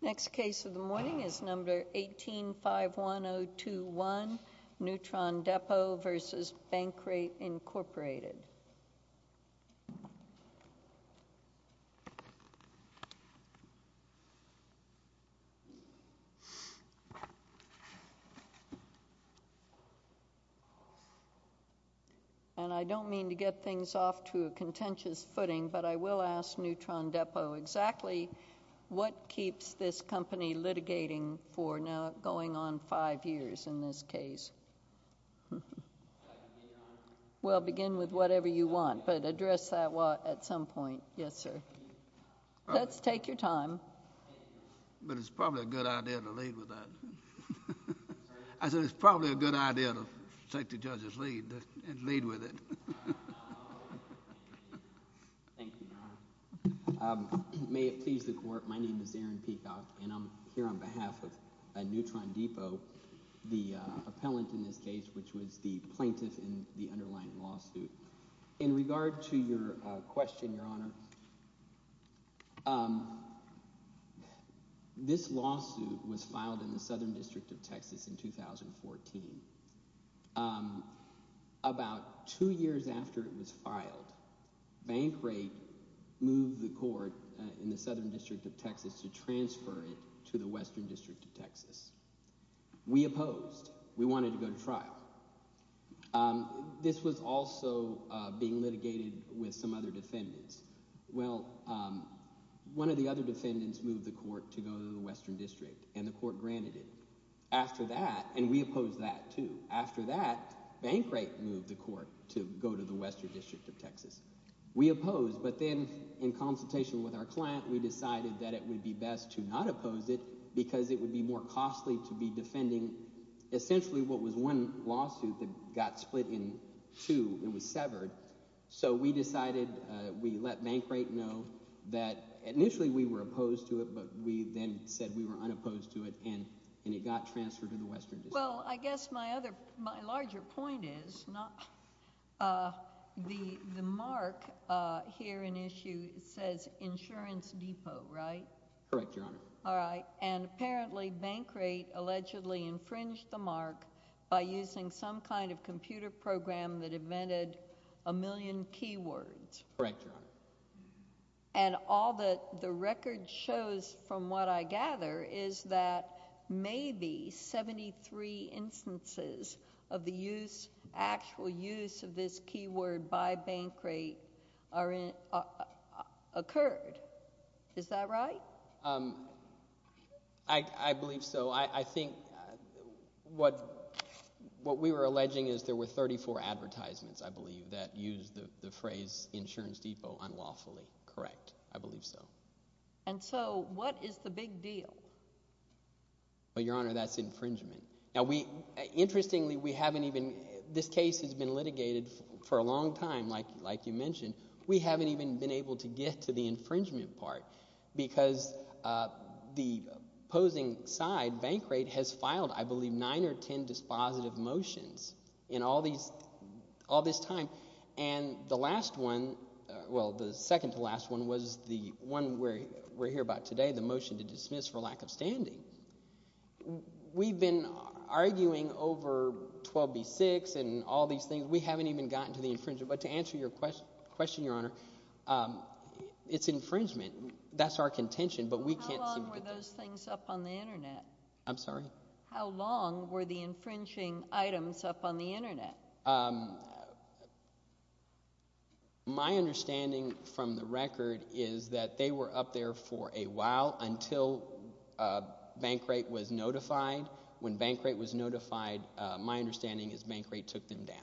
v. Bankrate, Incorporated. Next case of the morning is number 1851021, Neutron Depot v. Bankrate, Incorporated. And I don't mean to get things off to a contentious footing, but I will ask Neutron Depot exactly what keeps this company litigating for now going on five years in this case. Well, begin with whatever you want, but address that at some point. Yes, sir. Let's take your time. But it's probably a good idea to lead with that. I said it's probably a good idea to take the judge's lead and lead with it. Thank you, Your Honor. May it please the Court, my name is Aaron Peacock, and I'm here on behalf of Neutron Depot, the appellant in this case, which was the plaintiff in the underlying lawsuit. In regard to your question, Your Honor, this lawsuit was filed in the Southern District of Texas in 2014. About two years after it was filed, Bankrate moved the court in the Southern District of Texas to transfer it to the Western District of Texas. We opposed. We wanted to go to trial. This was also being litigated with some other defendants. Well, one of the other defendants moved the court to go to the Western District, and the court granted it. After that – and we opposed that too – after that, Bankrate moved the court to go to the Western District of Texas. We opposed, but then in consultation with our client, we decided that it would be best to not oppose it because it would be more costly to be defending essentially what was one lawsuit that got split in two and was severed. So we decided – we let Bankrate know that initially we were opposed to it, but we then said we were unopposed to it, and it got transferred to the Western District. Well, I guess my other – my larger point is the mark here in issue says Insurance Depot, right? Correct, Your Honor. All right, and apparently Bankrate allegedly infringed the mark by using some kind of computer program that invented a million keywords. Correct, Your Honor. And all that the record shows from what I gather is that maybe 73 instances of the use – actual use of this keyword by Bankrate occurred. Is that right? I believe so. I think what we were alleging is there were 34 advertisements, I believe, that used the phrase Insurance Depot unlawfully. Correct. I believe so. And so what is the big deal? Well, Your Honor, that's infringement. Now, we – interestingly, we haven't even – this case has been litigated for a long time, like you mentioned. We haven't even been able to get to the infringement part because the opposing side, Bankrate, has filed, I believe, nine or ten dispositive motions in all this time. And the last one – well, the second to last one was the one we're here about today, the motion to dismiss for lack of standing. We've been arguing over 12B6 and all these things. We haven't even gotten to the infringement. But to answer your question, Your Honor, it's infringement. That's our contention, but we can't seem to – How long were those things up on the internet? I'm sorry? How long were the infringing items up on the internet? My understanding from the record is that they were up there for a while until Bankrate was notified. When Bankrate was notified, my understanding is Bankrate took them down.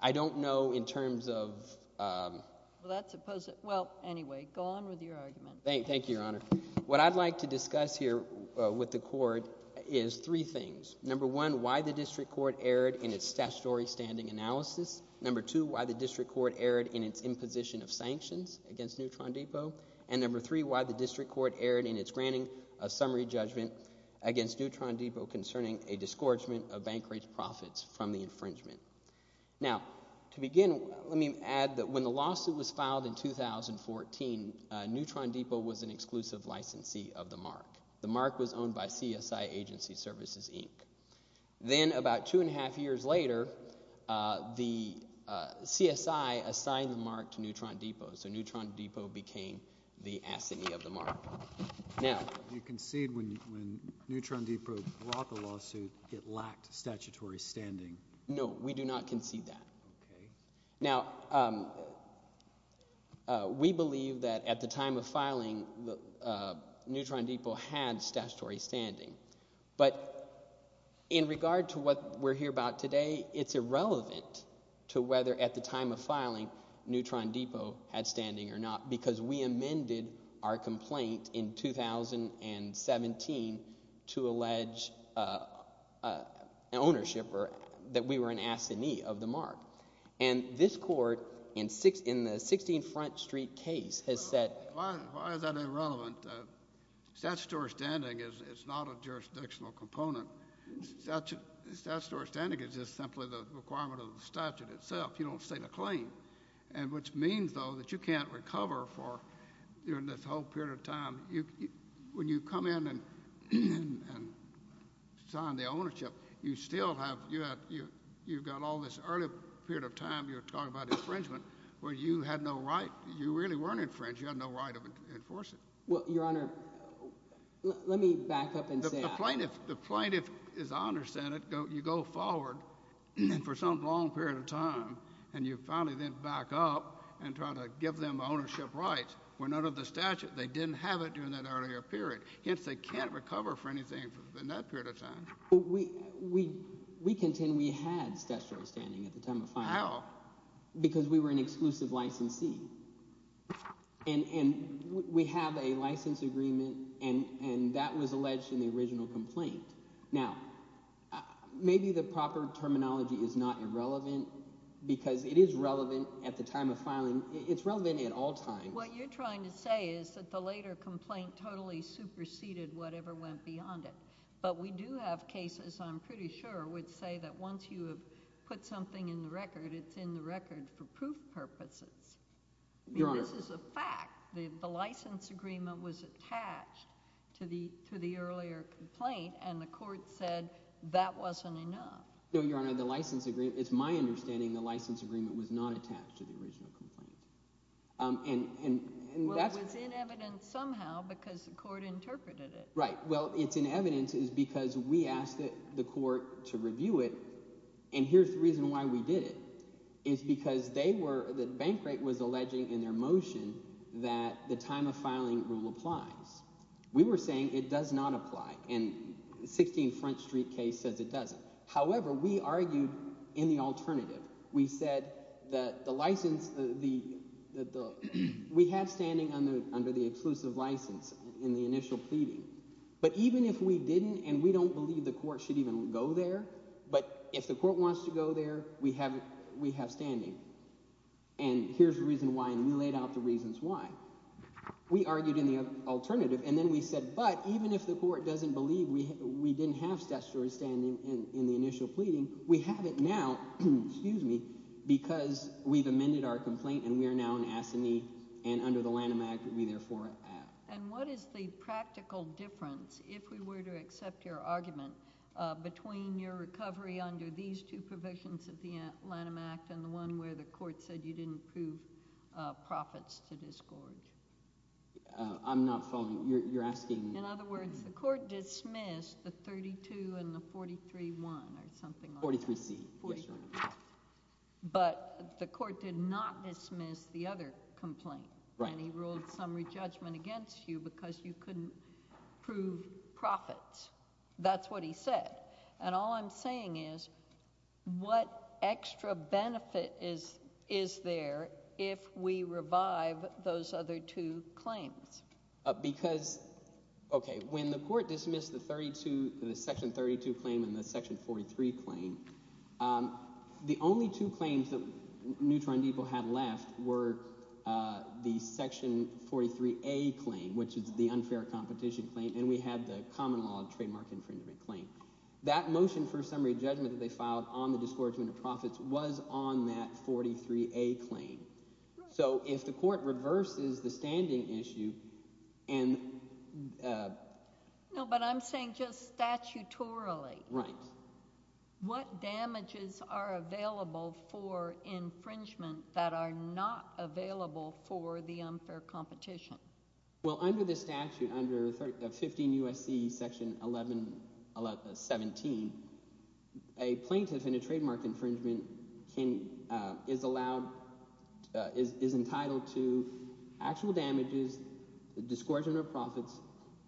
I don't know in terms of – Well, that's – well, anyway, go on with your argument. Thank you, Your Honor. What I'd like to discuss here with the court is three things. Number one, why the district court erred in its statutory standing analysis. Number two, why the district court erred in its imposition of sanctions against Neutron Depot. And number three, why the district court erred in its granting a summary judgment against Neutron Depot concerning a disgorgement of Bankrate's profits from the infringement. Now, to begin, let me add that when the lawsuit was filed in 2014, Neutron Depot was an exclusive licensee of the MARC. The MARC was owned by CSI Agency Services, Inc. Then about two and a half years later, the CSI assigned the MARC to Neutron Depot, so Neutron Depot became the assignee of the MARC. Now – You concede when Neutron Depot brought the lawsuit it lacked statutory standing. No, we do not concede that. Okay. Now, we believe that at the time of filing, Neutron Depot had statutory standing. But in regard to what we're here about today, it's irrelevant to whether at the time of filing Neutron Depot had standing or not because we amended our complaint in 2017 to allege ownership or that we were an assignee of the MARC. And this Court in the 16th Front Street case has said – Why is that irrelevant? Statutory standing is not a jurisdictional component. Statutory standing is just simply the requirement of the statute itself. You don't state a claim, which means, though, that you can't recover for this whole period of time. When you come in and sign the ownership, you still have – you've got all this early period of time you're talking about infringement where you had no right – you really weren't infringed. You had no right to enforce it. Well, Your Honor, let me back up and say that. The plaintiff, as I understand it, you go forward for some long period of time, and you finally then back up and try to give them ownership rights. When under the statute, they didn't have it during that earlier period. Hence, they can't recover for anything in that period of time. We contend we had statutory standing at the time of filing. How? Because we were an exclusive licensee. And we have a license agreement, and that was alleged in the original complaint. Now, maybe the proper terminology is not irrelevant because it is relevant at the time of filing. It's relevant at all times. What you're trying to say is that the later complaint totally superseded whatever went beyond it. But we do have cases, I'm pretty sure, which say that once you have put something in the record, it's in the record for proof purposes. This is a fact. The license agreement was attached to the earlier complaint, and the court said that wasn't enough. No, Your Honor. The license agreement – it's my understanding the license agreement was not attached to the original complaint. Well, it was in evidence somehow because the court interpreted it. Right. Well, it's in evidence because we asked the court to review it, and here's the reason why we did it. It's because they were – Bankrate was alleging in their motion that the time of filing rule applies. We were saying it does not apply, and the 16th Front Street case says it doesn't. However, we argued in the alternative. We said that the license – we had standing under the exclusive license in the initial pleading. But even if we didn't and we don't believe the court should even go there, but if the court wants to go there, we have standing. And here's the reason why, and we laid out the reasons why. We argued in the alternative, and then we said, but even if the court doesn't believe we didn't have statutory standing in the initial pleading, we have it now. Excuse me. Because we've amended our complaint, and we are now an assignee, and under the Lanham Act, we therefore have. And what is the practical difference, if we were to accept your argument, between your recovery under these two provisions of the Lanham Act and the one where the court said you didn't prove profits to disgorge? I'm not following. You're asking – In other words, the court dismissed the 32 and the 43-1 or something like that. 43-C. But the court did not dismiss the other complaint. Right. And he ruled summary judgment against you because you couldn't prove profits. That's what he said. And all I'm saying is what extra benefit is there if we revive those other two claims? Because – okay, when the court dismissed the 32 – the section 32 claim and the section 43 claim, the only two claims that Neutron Depot had left were the section 43-A claim, which is the unfair competition claim, and we had the common law trademark infringement claim. That motion for summary judgment that they filed on the disgorgement of profits was on that 43-A claim. So if the court reverses the standing issue and – No, but I'm saying just statutorily. Right. What damages are available for infringement that are not available for the unfair competition? Well, under the statute, under 15 U.S.C. section 11 – 17, a plaintiff in a trademark infringement can – is allowed – is entitled to actual damages, the disgorgement of profits,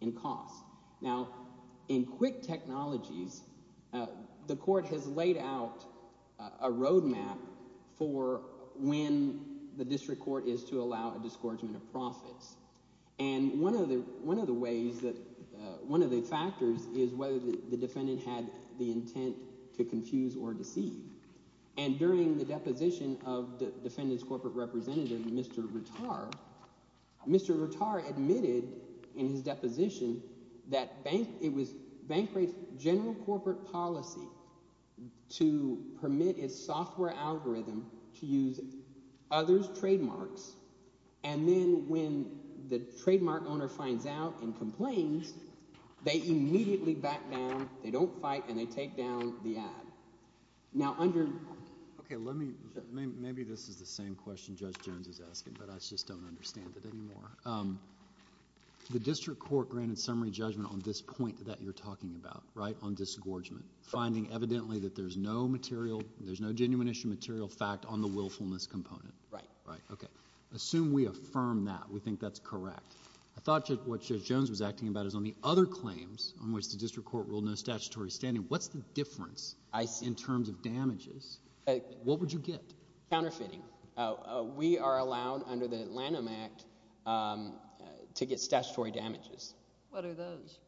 and costs. Now, in quick technologies, the court has laid out a roadmap for when the district court is to allow a disgorgement of profits. And one of the ways that – one of the factors is whether the defendant had the intent to confuse or deceive. And during the deposition of the defendant's corporate representative, Mr. Rattar, Mr. Rattar admitted in his deposition that bank – it was Bankrate's general corporate policy to permit its software algorithm to use others' trademarks. And then when the trademark owner finds out and complains, they immediately back down. They don't fight, and they take down the ad. Now, under – Okay. Let me – maybe this is the same question Judge Jones is asking, but I just don't understand it anymore. The district court granted summary judgment on this point that you're talking about, right, on disgorgement, finding evidently that there's no material – there's no genuine issue, material fact on the willfulness component. Right. Right. Okay. Assume we affirm that. We think that's correct. I thought what Judge Jones was acting about is on the other claims on which the district court ruled no statutory standing. What's the difference? In terms of damages, what would you get? Counterfeiting. We are allowed under the Atlanta Act to get statutory damages. What are those?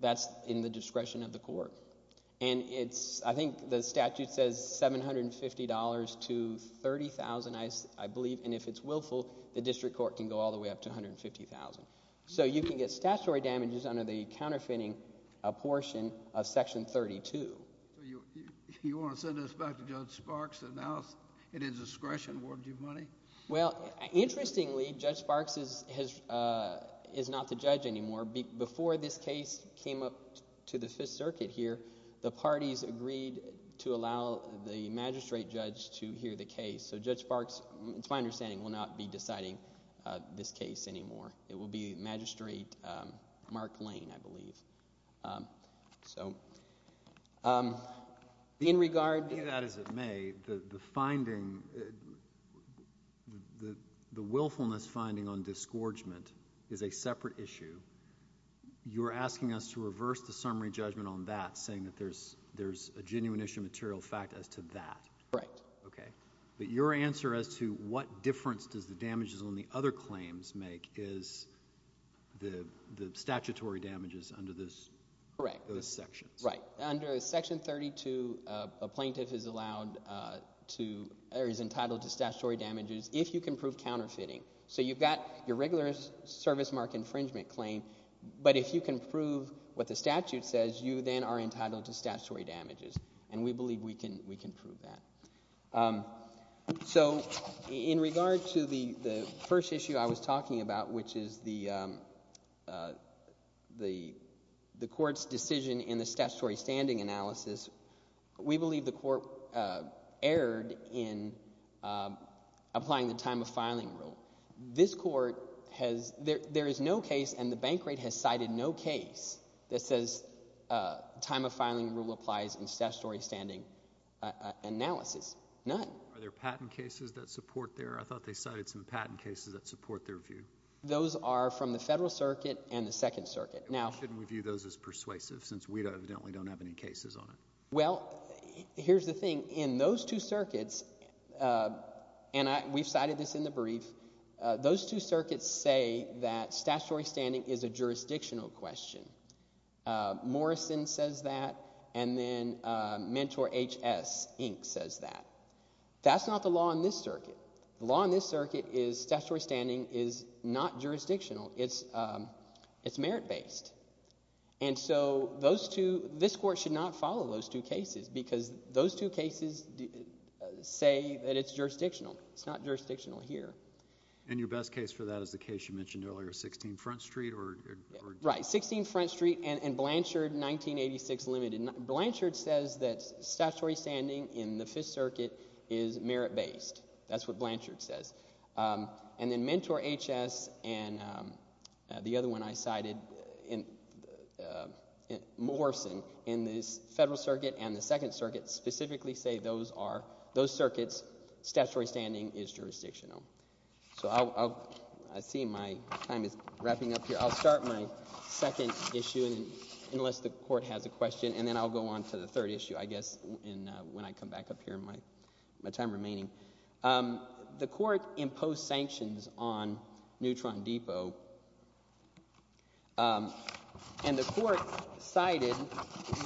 That's in the discretion of the court. And it's – I think the statute says $750 to $30,000, I believe. And if it's willful, the district court can go all the way up to $150,000. So you can get statutory damages under the counterfeiting portion of Section 32. So you want to send this back to Judge Sparks and now it is discretion. Where would you put it? Well, interestingly, Judge Sparks is not the judge anymore. Before this case came up to the Fifth Circuit here, the parties agreed to allow the magistrate judge to hear the case. So Judge Sparks, it's my understanding, will not be deciding this case anymore. So in regard to that as it may, the finding, the willfulness finding on disgorgement is a separate issue. You're asking us to reverse the summary judgment on that, saying that there's a genuine issue of material fact as to that. Right. Okay. But your answer as to what difference does the damages on the other claims make is the statutory damages under those sections. Right. Under Section 32, a plaintiff is allowed to – or is entitled to statutory damages if you can prove counterfeiting. So you've got your regular service mark infringement claim, but if you can prove what the statute says, you then are entitled to statutory damages. And we believe we can prove that. So in regard to the first issue I was talking about, which is the court's decision in the statutory standing analysis, we believe the court erred in applying the time of filing rule. This court has – there is no case, and the bank rate has cited no case that says time of filing rule applies in statutory standing analysis. None. Are there patent cases that support there? I thought they cited some patent cases that support their view. Those are from the Federal Circuit and the Second Circuit. And why shouldn't we view those as persuasive since we evidently don't have any cases on it? Well, here's the thing. In those two circuits – and we've cited this in the brief – those two circuits say that statutory standing is a jurisdictional question. Morrison says that, and then Mentor HS, Inc. says that. That's not the law in this circuit. The law in this circuit is statutory standing is not jurisdictional. It's merit-based. And so those two – this court should not follow those two cases because those two cases say that it's jurisdictional. It's not jurisdictional here. And your best case for that is the case you mentioned earlier, 16 Front Street or – Right, 16 Front Street and Blanchard 1986 limited. Blanchard says that statutory standing in the Fifth Circuit is merit-based. That's what Blanchard says. And then Mentor HS and the other one I cited, Morrison, in the Federal Circuit and the Second Circuit specifically say those are – those circuits, statutory standing is jurisdictional. So I see my time is wrapping up here. I'll start my second issue unless the court has a question, and then I'll go on to the third issue I guess when I come back up here in my time remaining. The court imposed sanctions on Neutron Depot, and the court cited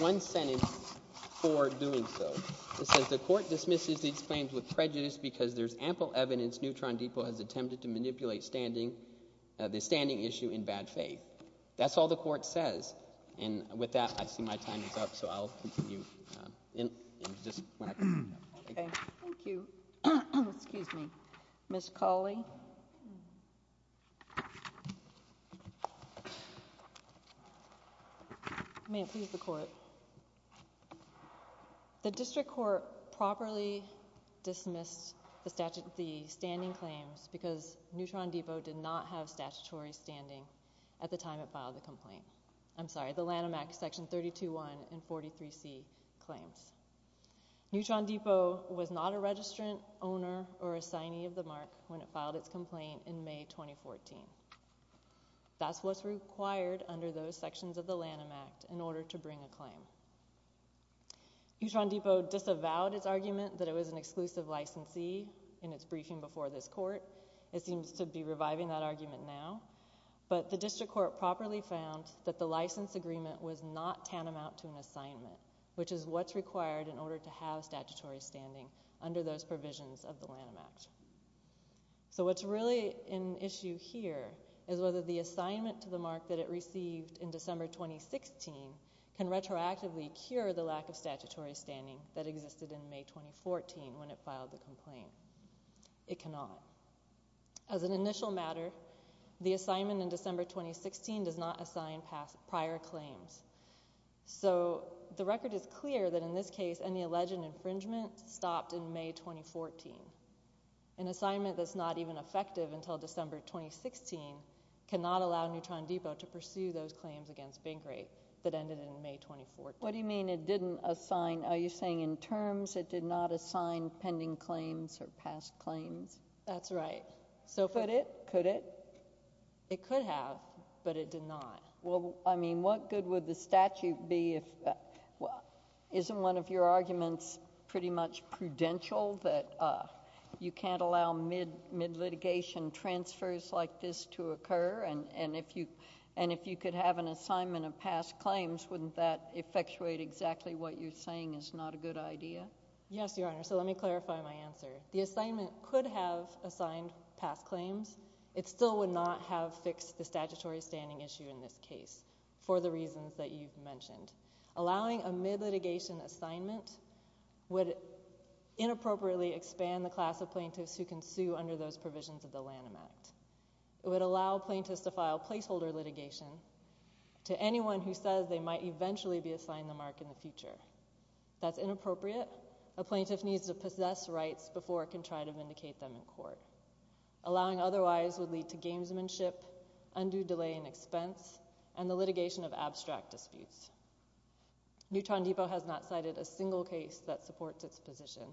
one sentence for doing so. It says the court dismisses these claims with prejudice because there's ample evidence Neutron Depot has attempted to manipulate standing – the standing issue in bad faith. That's all the court says. And with that, I see my time is up, so I'll continue. Okay, thank you. Excuse me. Ms. Cawley? May it please the court. The district court properly dismissed the standing claims because Neutron Depot did not have statutory standing at the time it filed the complaint. I'm sorry, the Lanham Act Section 32.1 and 43C claims. Neutron Depot was not a registrant, owner, or assignee of the mark when it filed its complaint in May 2014. That's what's required under those sections of the Lanham Act in order to bring a claim. Neutron Depot disavowed its argument that it was an exclusive licensee in its briefing before this court. It seems to be reviving that argument now, but the district court properly found that the license agreement was not tantamount to an assignment, which is what's required in order to have statutory standing under those provisions of the Lanham Act. So what's really an issue here is whether the assignment to the mark that it received in December 2016 can retroactively cure the lack of statutory standing that existed in May 2014 when it filed the complaint. It cannot. As an initial matter, the assignment in December 2016 does not assign prior claims. So the record is clear that in this case, any alleged infringement stopped in May 2014. An assignment that's not even effective until December 2016 cannot allow Neutron Depot to pursue those claims against Binkrate that ended in May 2014. What do you mean it didn't assign? Are you saying in terms it did not assign pending claims or past claims? That's right. Could it? Could it? It could have, but it did not. Well, I mean, what good would the statute be if—isn't one of your arguments pretty much prudential that you can't allow mid-litigation transfers like this to occur? And if you could have an assignment of past claims, wouldn't that effectuate exactly what you're saying is not a good idea? Yes, Your Honor. So let me clarify my answer. The assignment could have assigned past claims. It still would not have fixed the statutory standing issue in this case for the reasons that you've mentioned. Allowing a mid-litigation assignment would inappropriately expand the class of plaintiffs who can sue under those provisions of the Lanham Act. It would allow plaintiffs to file placeholder litigation to anyone who says they might eventually be assigned the mark in the future. That's inappropriate. A plaintiff needs to possess rights before it can try to vindicate them in court. Allowing otherwise would lead to gamesmanship, undue delay in expense, and the litigation of abstract disputes. Neutron Depot has not cited a single case that supports its position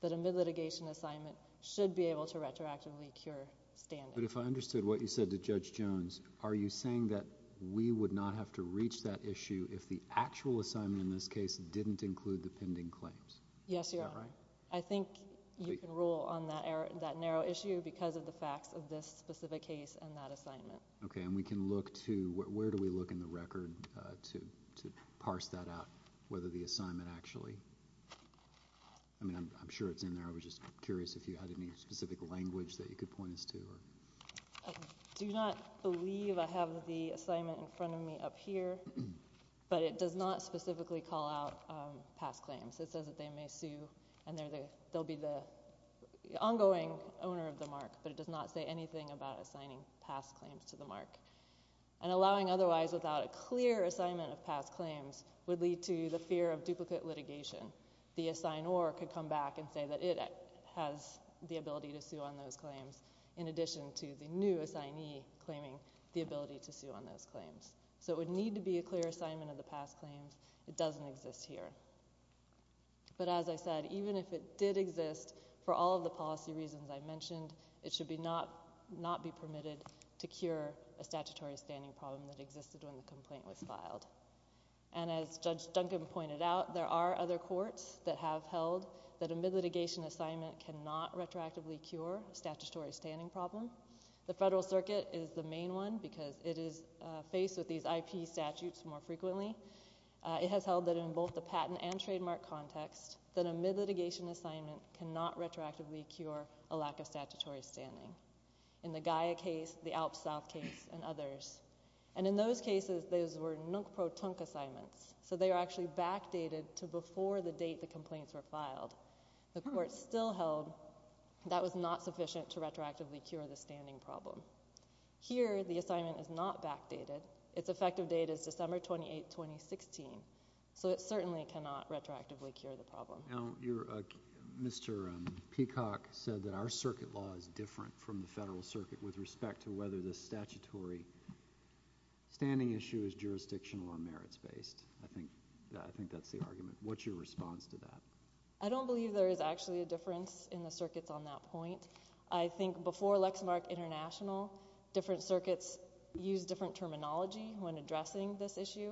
that a mid-litigation assignment should be able to retroactively cure standing. But if I understood what you said to Judge Jones, are you saying that we would not have to reach that issue if the actual assignment in this case didn't include the pending claims? Yes, Your Honor. Is that right? I think you can rule on that narrow issue because of the facts of this specific case and that assignment. Okay, and we can look to... where do we look in the record to parse that out, whether the assignment actually... I mean, I'm sure it's in there. I was just curious if you had any specific language that you could point us to. I do not believe I have the assignment in front of me up here, but it does not specifically call out past claims. It says that they may sue and they'll be the ongoing owner of the mark, but it does not say anything about assigning past claims to the mark. And allowing otherwise without a clear assignment of past claims would lead to the fear of duplicate litigation. The assignor could come back and say that it has the ability to sue on those claims in addition to the new assignee claiming the ability to sue on those claims. So it would need to be a clear assignment of the past claims. It doesn't exist here. But as I said, even if it did exist, for all of the policy reasons I mentioned, it should not be permitted to cure a statutory standing problem that existed when the complaint was filed. And as Judge Duncan pointed out, there are other courts that have held that a mid-litigation assignment cannot retroactively cure a statutory standing problem. The Federal Circuit is the main one because it is faced with these IP statutes more frequently. It has held that in both the patent and trademark context, that a mid-litigation assignment cannot retroactively cure a lack of statutory standing. In the Gaia case, the Alp South case, and others. And in those cases, those were nunk-pro-tunk assignments. So they are actually backdated to before the date the complaints were filed. The court still held that was not sufficient to retroactively cure the standing problem. Here, the assignment is not backdated. Its effective date is December 28, 2016. So it certainly cannot retroactively cure the problem. Now, Mr. Peacock said that our circuit law is different from the Federal Circuit with respect to whether the statutory standing issue is jurisdictional or merits-based. I think that's the argument. What's your response to that? I don't believe there is actually a difference in the circuits on that point. I think before Lexmark International, different circuits used different terminology when addressing this issue.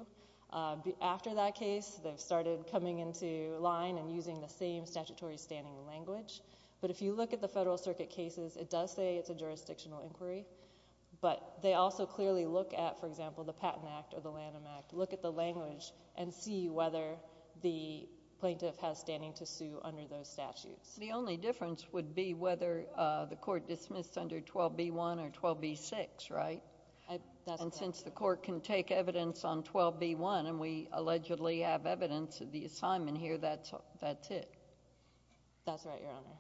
After that case, they've started coming into line and using the same statutory standing language. But if you look at the Federal Circuit cases, it does say it's a jurisdictional inquiry. But they also clearly look at, for example, the Patent Act or the Lanham Act, look at the language and see whether the plaintiff has standing to sue under those statutes. The only difference would be whether the court dismissed under 12b-1 or 12b-6, right? And since the court can take evidence on 12b-1 and we allegedly have evidence of the assignment here, that's it. That's right, Your Honor.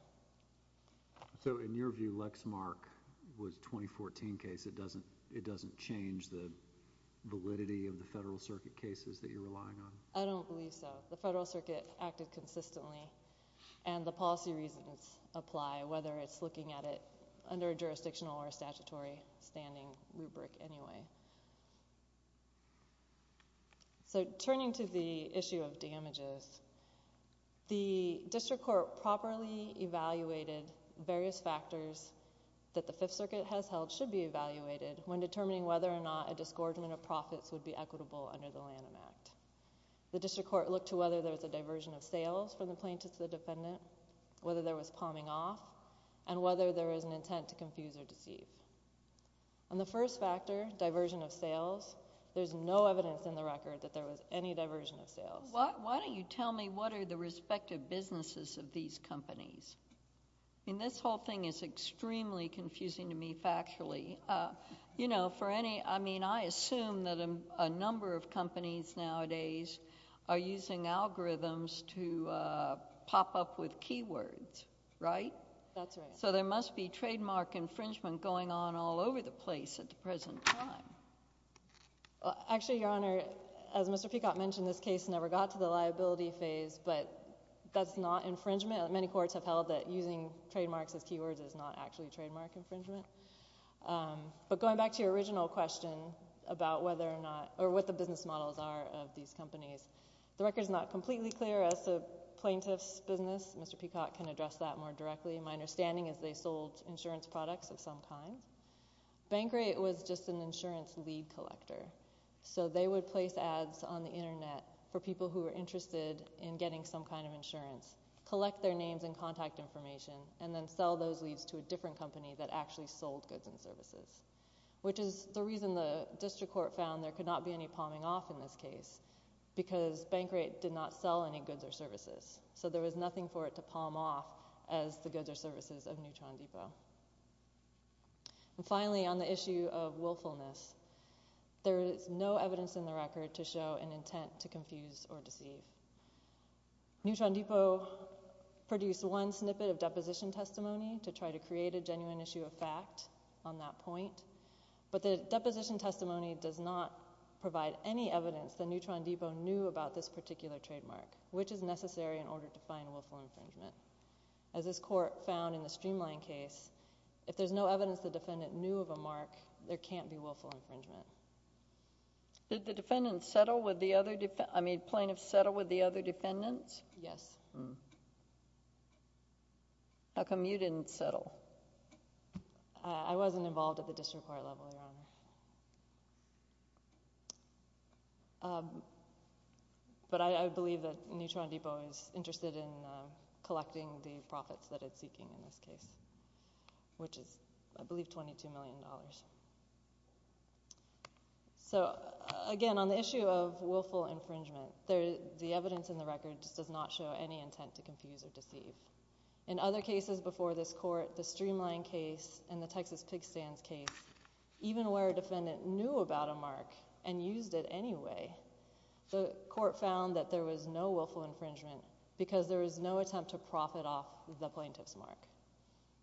So in your view, Lexmark was a 2014 case. It doesn't change the validity of the Federal Circuit cases that you're relying on? I don't believe so. The Federal Circuit acted consistently. And the policy reasons apply, whether it's looking at it under a jurisdictional or a statutory standing rubric anyway. So turning to the issue of damages, the district court properly evaluated various factors that the Fifth Circuit has held should be evaluated when determining whether or not a disgorgement of profits would be equitable under the Lanham Act. The district court looked to whether there was a diversion of sales from the plaintiff to the defendant, whether there was palming off, and whether there was an intent to confuse or deceive. On the first factor, diversion of sales, there's no evidence in the record that there was any diversion of sales. Why don't you tell me what are the respective businesses of these companies? I mean, this whole thing is extremely confusing to me factually. You know, for any—I mean, I assume that a number of companies nowadays are using algorithms to pop up with keywords, right? That's right. So there must be trademark infringement going on all over the place at the present time. Actually, Your Honor, as Mr. Peacock mentioned, this case never got to the liability phase, but that's not infringement. Many courts have held that using trademarks as keywords is not actually trademark infringement. But going back to your original question about whether or not—or what the business models are of these companies, the record is not completely clear as to plaintiff's business. Mr. Peacock can address that more directly. My understanding is they sold insurance products of some kind. Bankrate was just an insurance lead collector. So they would place ads on the Internet for people who were interested in getting some kind of insurance, collect their names and contact information, and then sell those leads to a different company that actually sold goods and services, which is the reason the district court found there could not be any palming off in this case, because Bankrate did not sell any goods or services. So there was nothing for it to palm off as the goods or services of Neutron Depot. And finally, on the issue of willfulness, there is no evidence in the record to show an intent to confuse or deceive. Neutron Depot produced one snippet of deposition testimony to try to create a genuine issue of fact on that point, but the deposition testimony does not provide any evidence that Neutron Depot knew about this particular trademark, which is necessary in order to find willful infringement. As this court found in the Streamline case, if there's no evidence the defendant knew of a mark, there can't be willful infringement. Did the plaintiff settle with the other defendants? Yes. How come you didn't settle? I wasn't involved at the district court level, Your Honor. But I believe that Neutron Depot is interested in collecting the profits that it's seeking in this case, which is, I believe, $22 million. So, again, on the issue of willful infringement, the evidence in the record just does not show any intent to confuse or deceive. In other cases before this court, the Streamline case and the Texas Pig Stands case, even where a defendant knew about a mark and used it anyway, the court found that there was no willful infringement because there was no attempt to profit off the plaintiff's mark.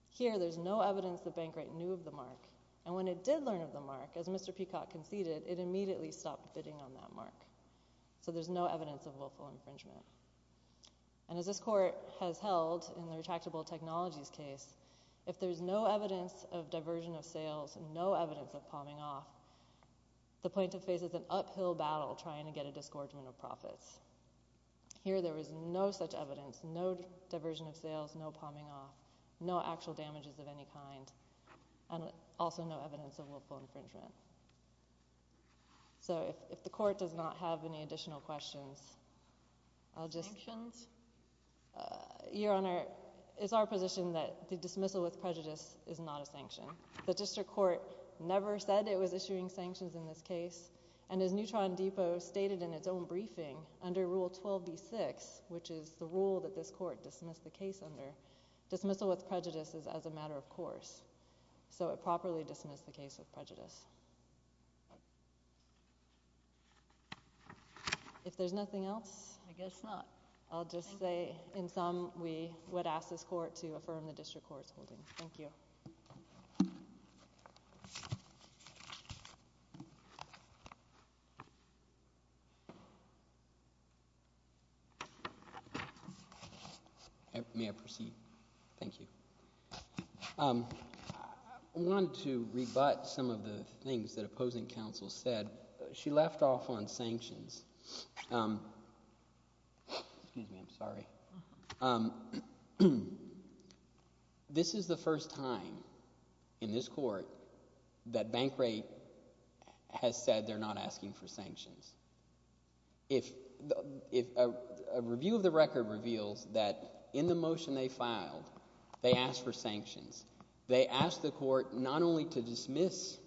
Here, there's no evidence that Bankright knew of the mark. And when it did learn of the mark, as Mr. Peacock conceded, it immediately stopped bidding on that mark. So there's no evidence of willful infringement. And as this court has held in the Retractable Technologies case, if there's no evidence of diversion of sales and no evidence of palming off, the plaintiff faces an uphill battle trying to get a disgorgement of profits. Here, there is no such evidence, no diversion of sales, no palming off, no actual damages of any kind, and also no evidence of willful infringement. So if the court does not have any additional questions, I'll just— Sanctions? Your Honor, it's our position that the dismissal with prejudice is not a sanction. The district court never said it was issuing sanctions in this case. And as Neutron Depot stated in its own briefing, under Rule 12b-6, which is the rule that this court dismissed the case under, dismissal with prejudice is as a matter of course. So it properly dismissed the case with prejudice. If there's nothing else— I guess not. I'll just say, in sum, we would ask this court to affirm the district court's holding. Thank you. Thank you. May I proceed? Thank you. I wanted to rebut some of the things that opposing counsel said. She left off on sanctions. Excuse me. I'm sorry. This is the first time in this court that Bankrate has said they're not asking for sanctions. A review of the record reveals that in the motion they filed, they asked for sanctions. They asked the court not only to dismiss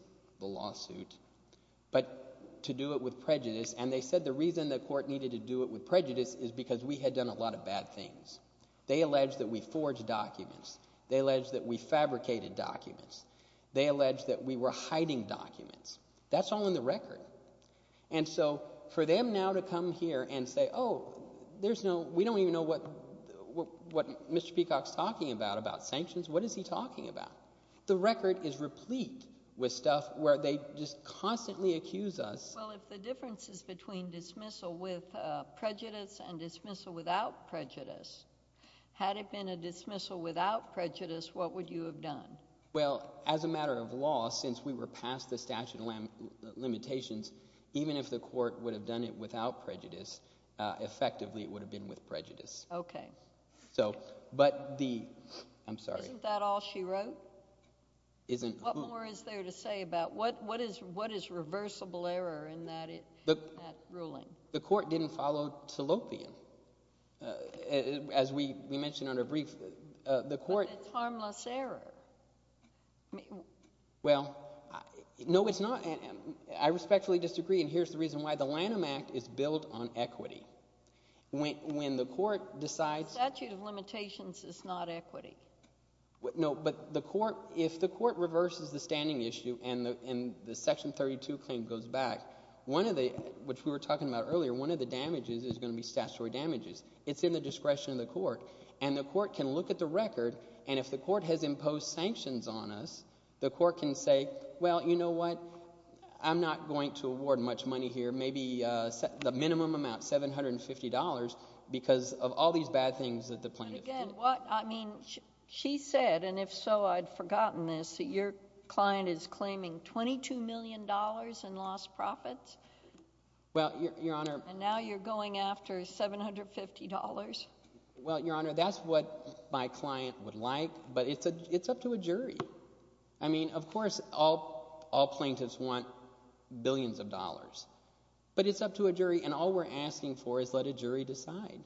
the lawsuit but to do it with prejudice. And they said the reason the court needed to do it with prejudice is because we had done a lot of bad things. They alleged that we forged documents. They alleged that we fabricated documents. They alleged that we were hiding documents. That's all in the record. And so for them now to come here and say, oh, there's no—we don't even know what Mr. Peacock's talking about, about sanctions. What is he talking about? The record is replete with stuff where they just constantly accuse us— Well, if the difference is between dismissal with prejudice and dismissal without prejudice, had it been a dismissal without prejudice, what would you have done? Well, as a matter of law, since we were past the statute of limitations, even if the court would have done it without prejudice, effectively it would have been with prejudice. Okay. So—but the—I'm sorry. Isn't that all she wrote? Isn't— What more is there to say about what is reversible error in that ruling? The court didn't follow Tilopian. As we mentioned under brief, the court— But it's harmless error. Well, no, it's not. I respectfully disagree, and here's the reason why. The Lanham Act is built on equity. When the court decides— The statute of limitations is not equity. No, but the court—if the court reverses the standing issue and the Section 32 claim goes back, one of the—which we were talking about earlier, one of the damages is going to be statutory damages. It's in the discretion of the court, and the court can look at the record, and if the court has imposed sanctions on us, the court can say, well, you know what? I'm not going to award much money here, maybe the minimum amount, $750, because of all these bad things that the plaintiff did. Again, what—I mean she said, and if so, I'd forgotten this, that your client is claiming $22 million in lost profits. Well, Your Honor— And now you're going after $750. Well, Your Honor, that's what my client would like, but it's up to a jury. I mean, of course, all plaintiffs want billions of dollars, but it's up to a jury, and all we're asking for is let a jury decide.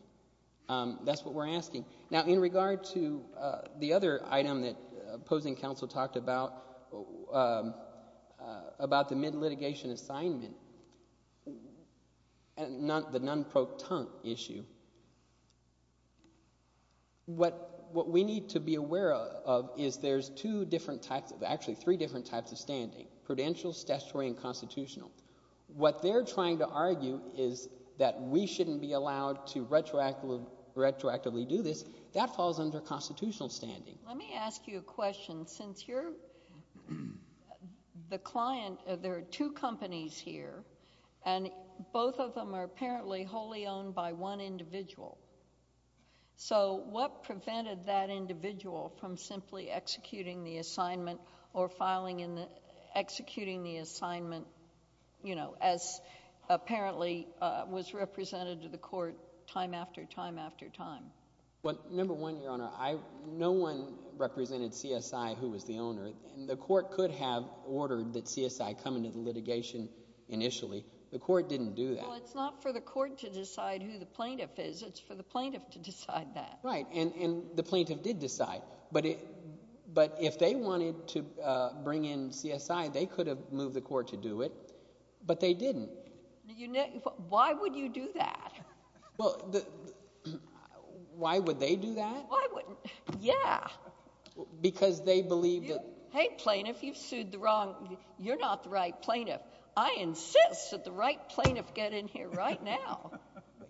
That's what we're asking. Now, in regard to the other item that opposing counsel talked about, about the mid-litigation assignment, the non-proton issue, what we need to be aware of is there's two different types of—actually, three different types of standing, prudential, statutory, and constitutional. What they're trying to argue is that we shouldn't be allowed to retroactively do this. That falls under constitutional standing. Let me ask you a question. Since you're the client—there are two companies here, and both of them are apparently wholly owned by one individual. So what prevented that individual from simply executing the assignment or filing in the—executing the assignment as apparently was represented to the court time after time after time? Well, number one, Your Honor, no one represented CSI who was the owner, and the court could have ordered that CSI come into the litigation initially. The court didn't do that. Well, it's not for the court to decide who the plaintiff is. It's for the plaintiff to decide that. Right, and the plaintiff did decide. But if they wanted to bring in CSI, they could have moved the court to do it, but they didn't. Why would you do that? Well, why would they do that? Why wouldn't—yeah. Because they believe that— Hey, plaintiff, you've sued the wrong—you're not the right plaintiff. I insist that the right plaintiff get in here right now.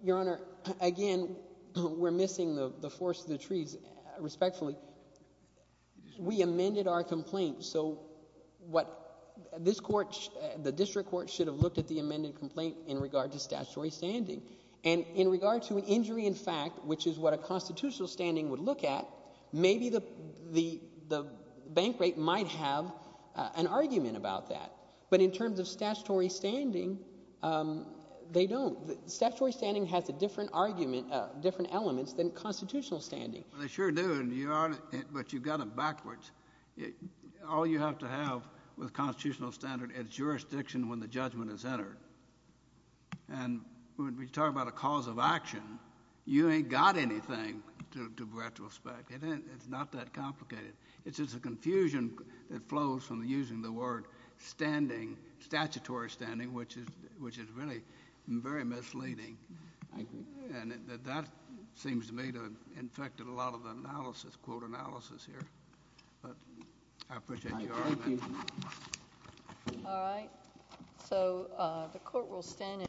Your Honor, again, we're missing the forest to the trees respectfully. We amended our complaint, so what—this court—the district court should have looked at the amended complaint in regard to statutory standing. And in regard to an injury in fact, which is what a constitutional standing would look at, maybe the bank rate might have an argument about that. But in terms of statutory standing, they don't. Statutory standing has a different argument—different elements than constitutional standing. They sure do, but you've got it backwards. All you have to have with constitutional standing is jurisdiction when the judgment is entered. And when we talk about a cause of action, you ain't got anything to retrospect. It's not that complicated. It's just a confusion that flows from using the word standing, statutory standing, which is really very misleading. I agree. And that seems to me to have infected a lot of the analysis, quote, analysis here. But I appreciate your argument. Thank you. All right. So the court will stand in—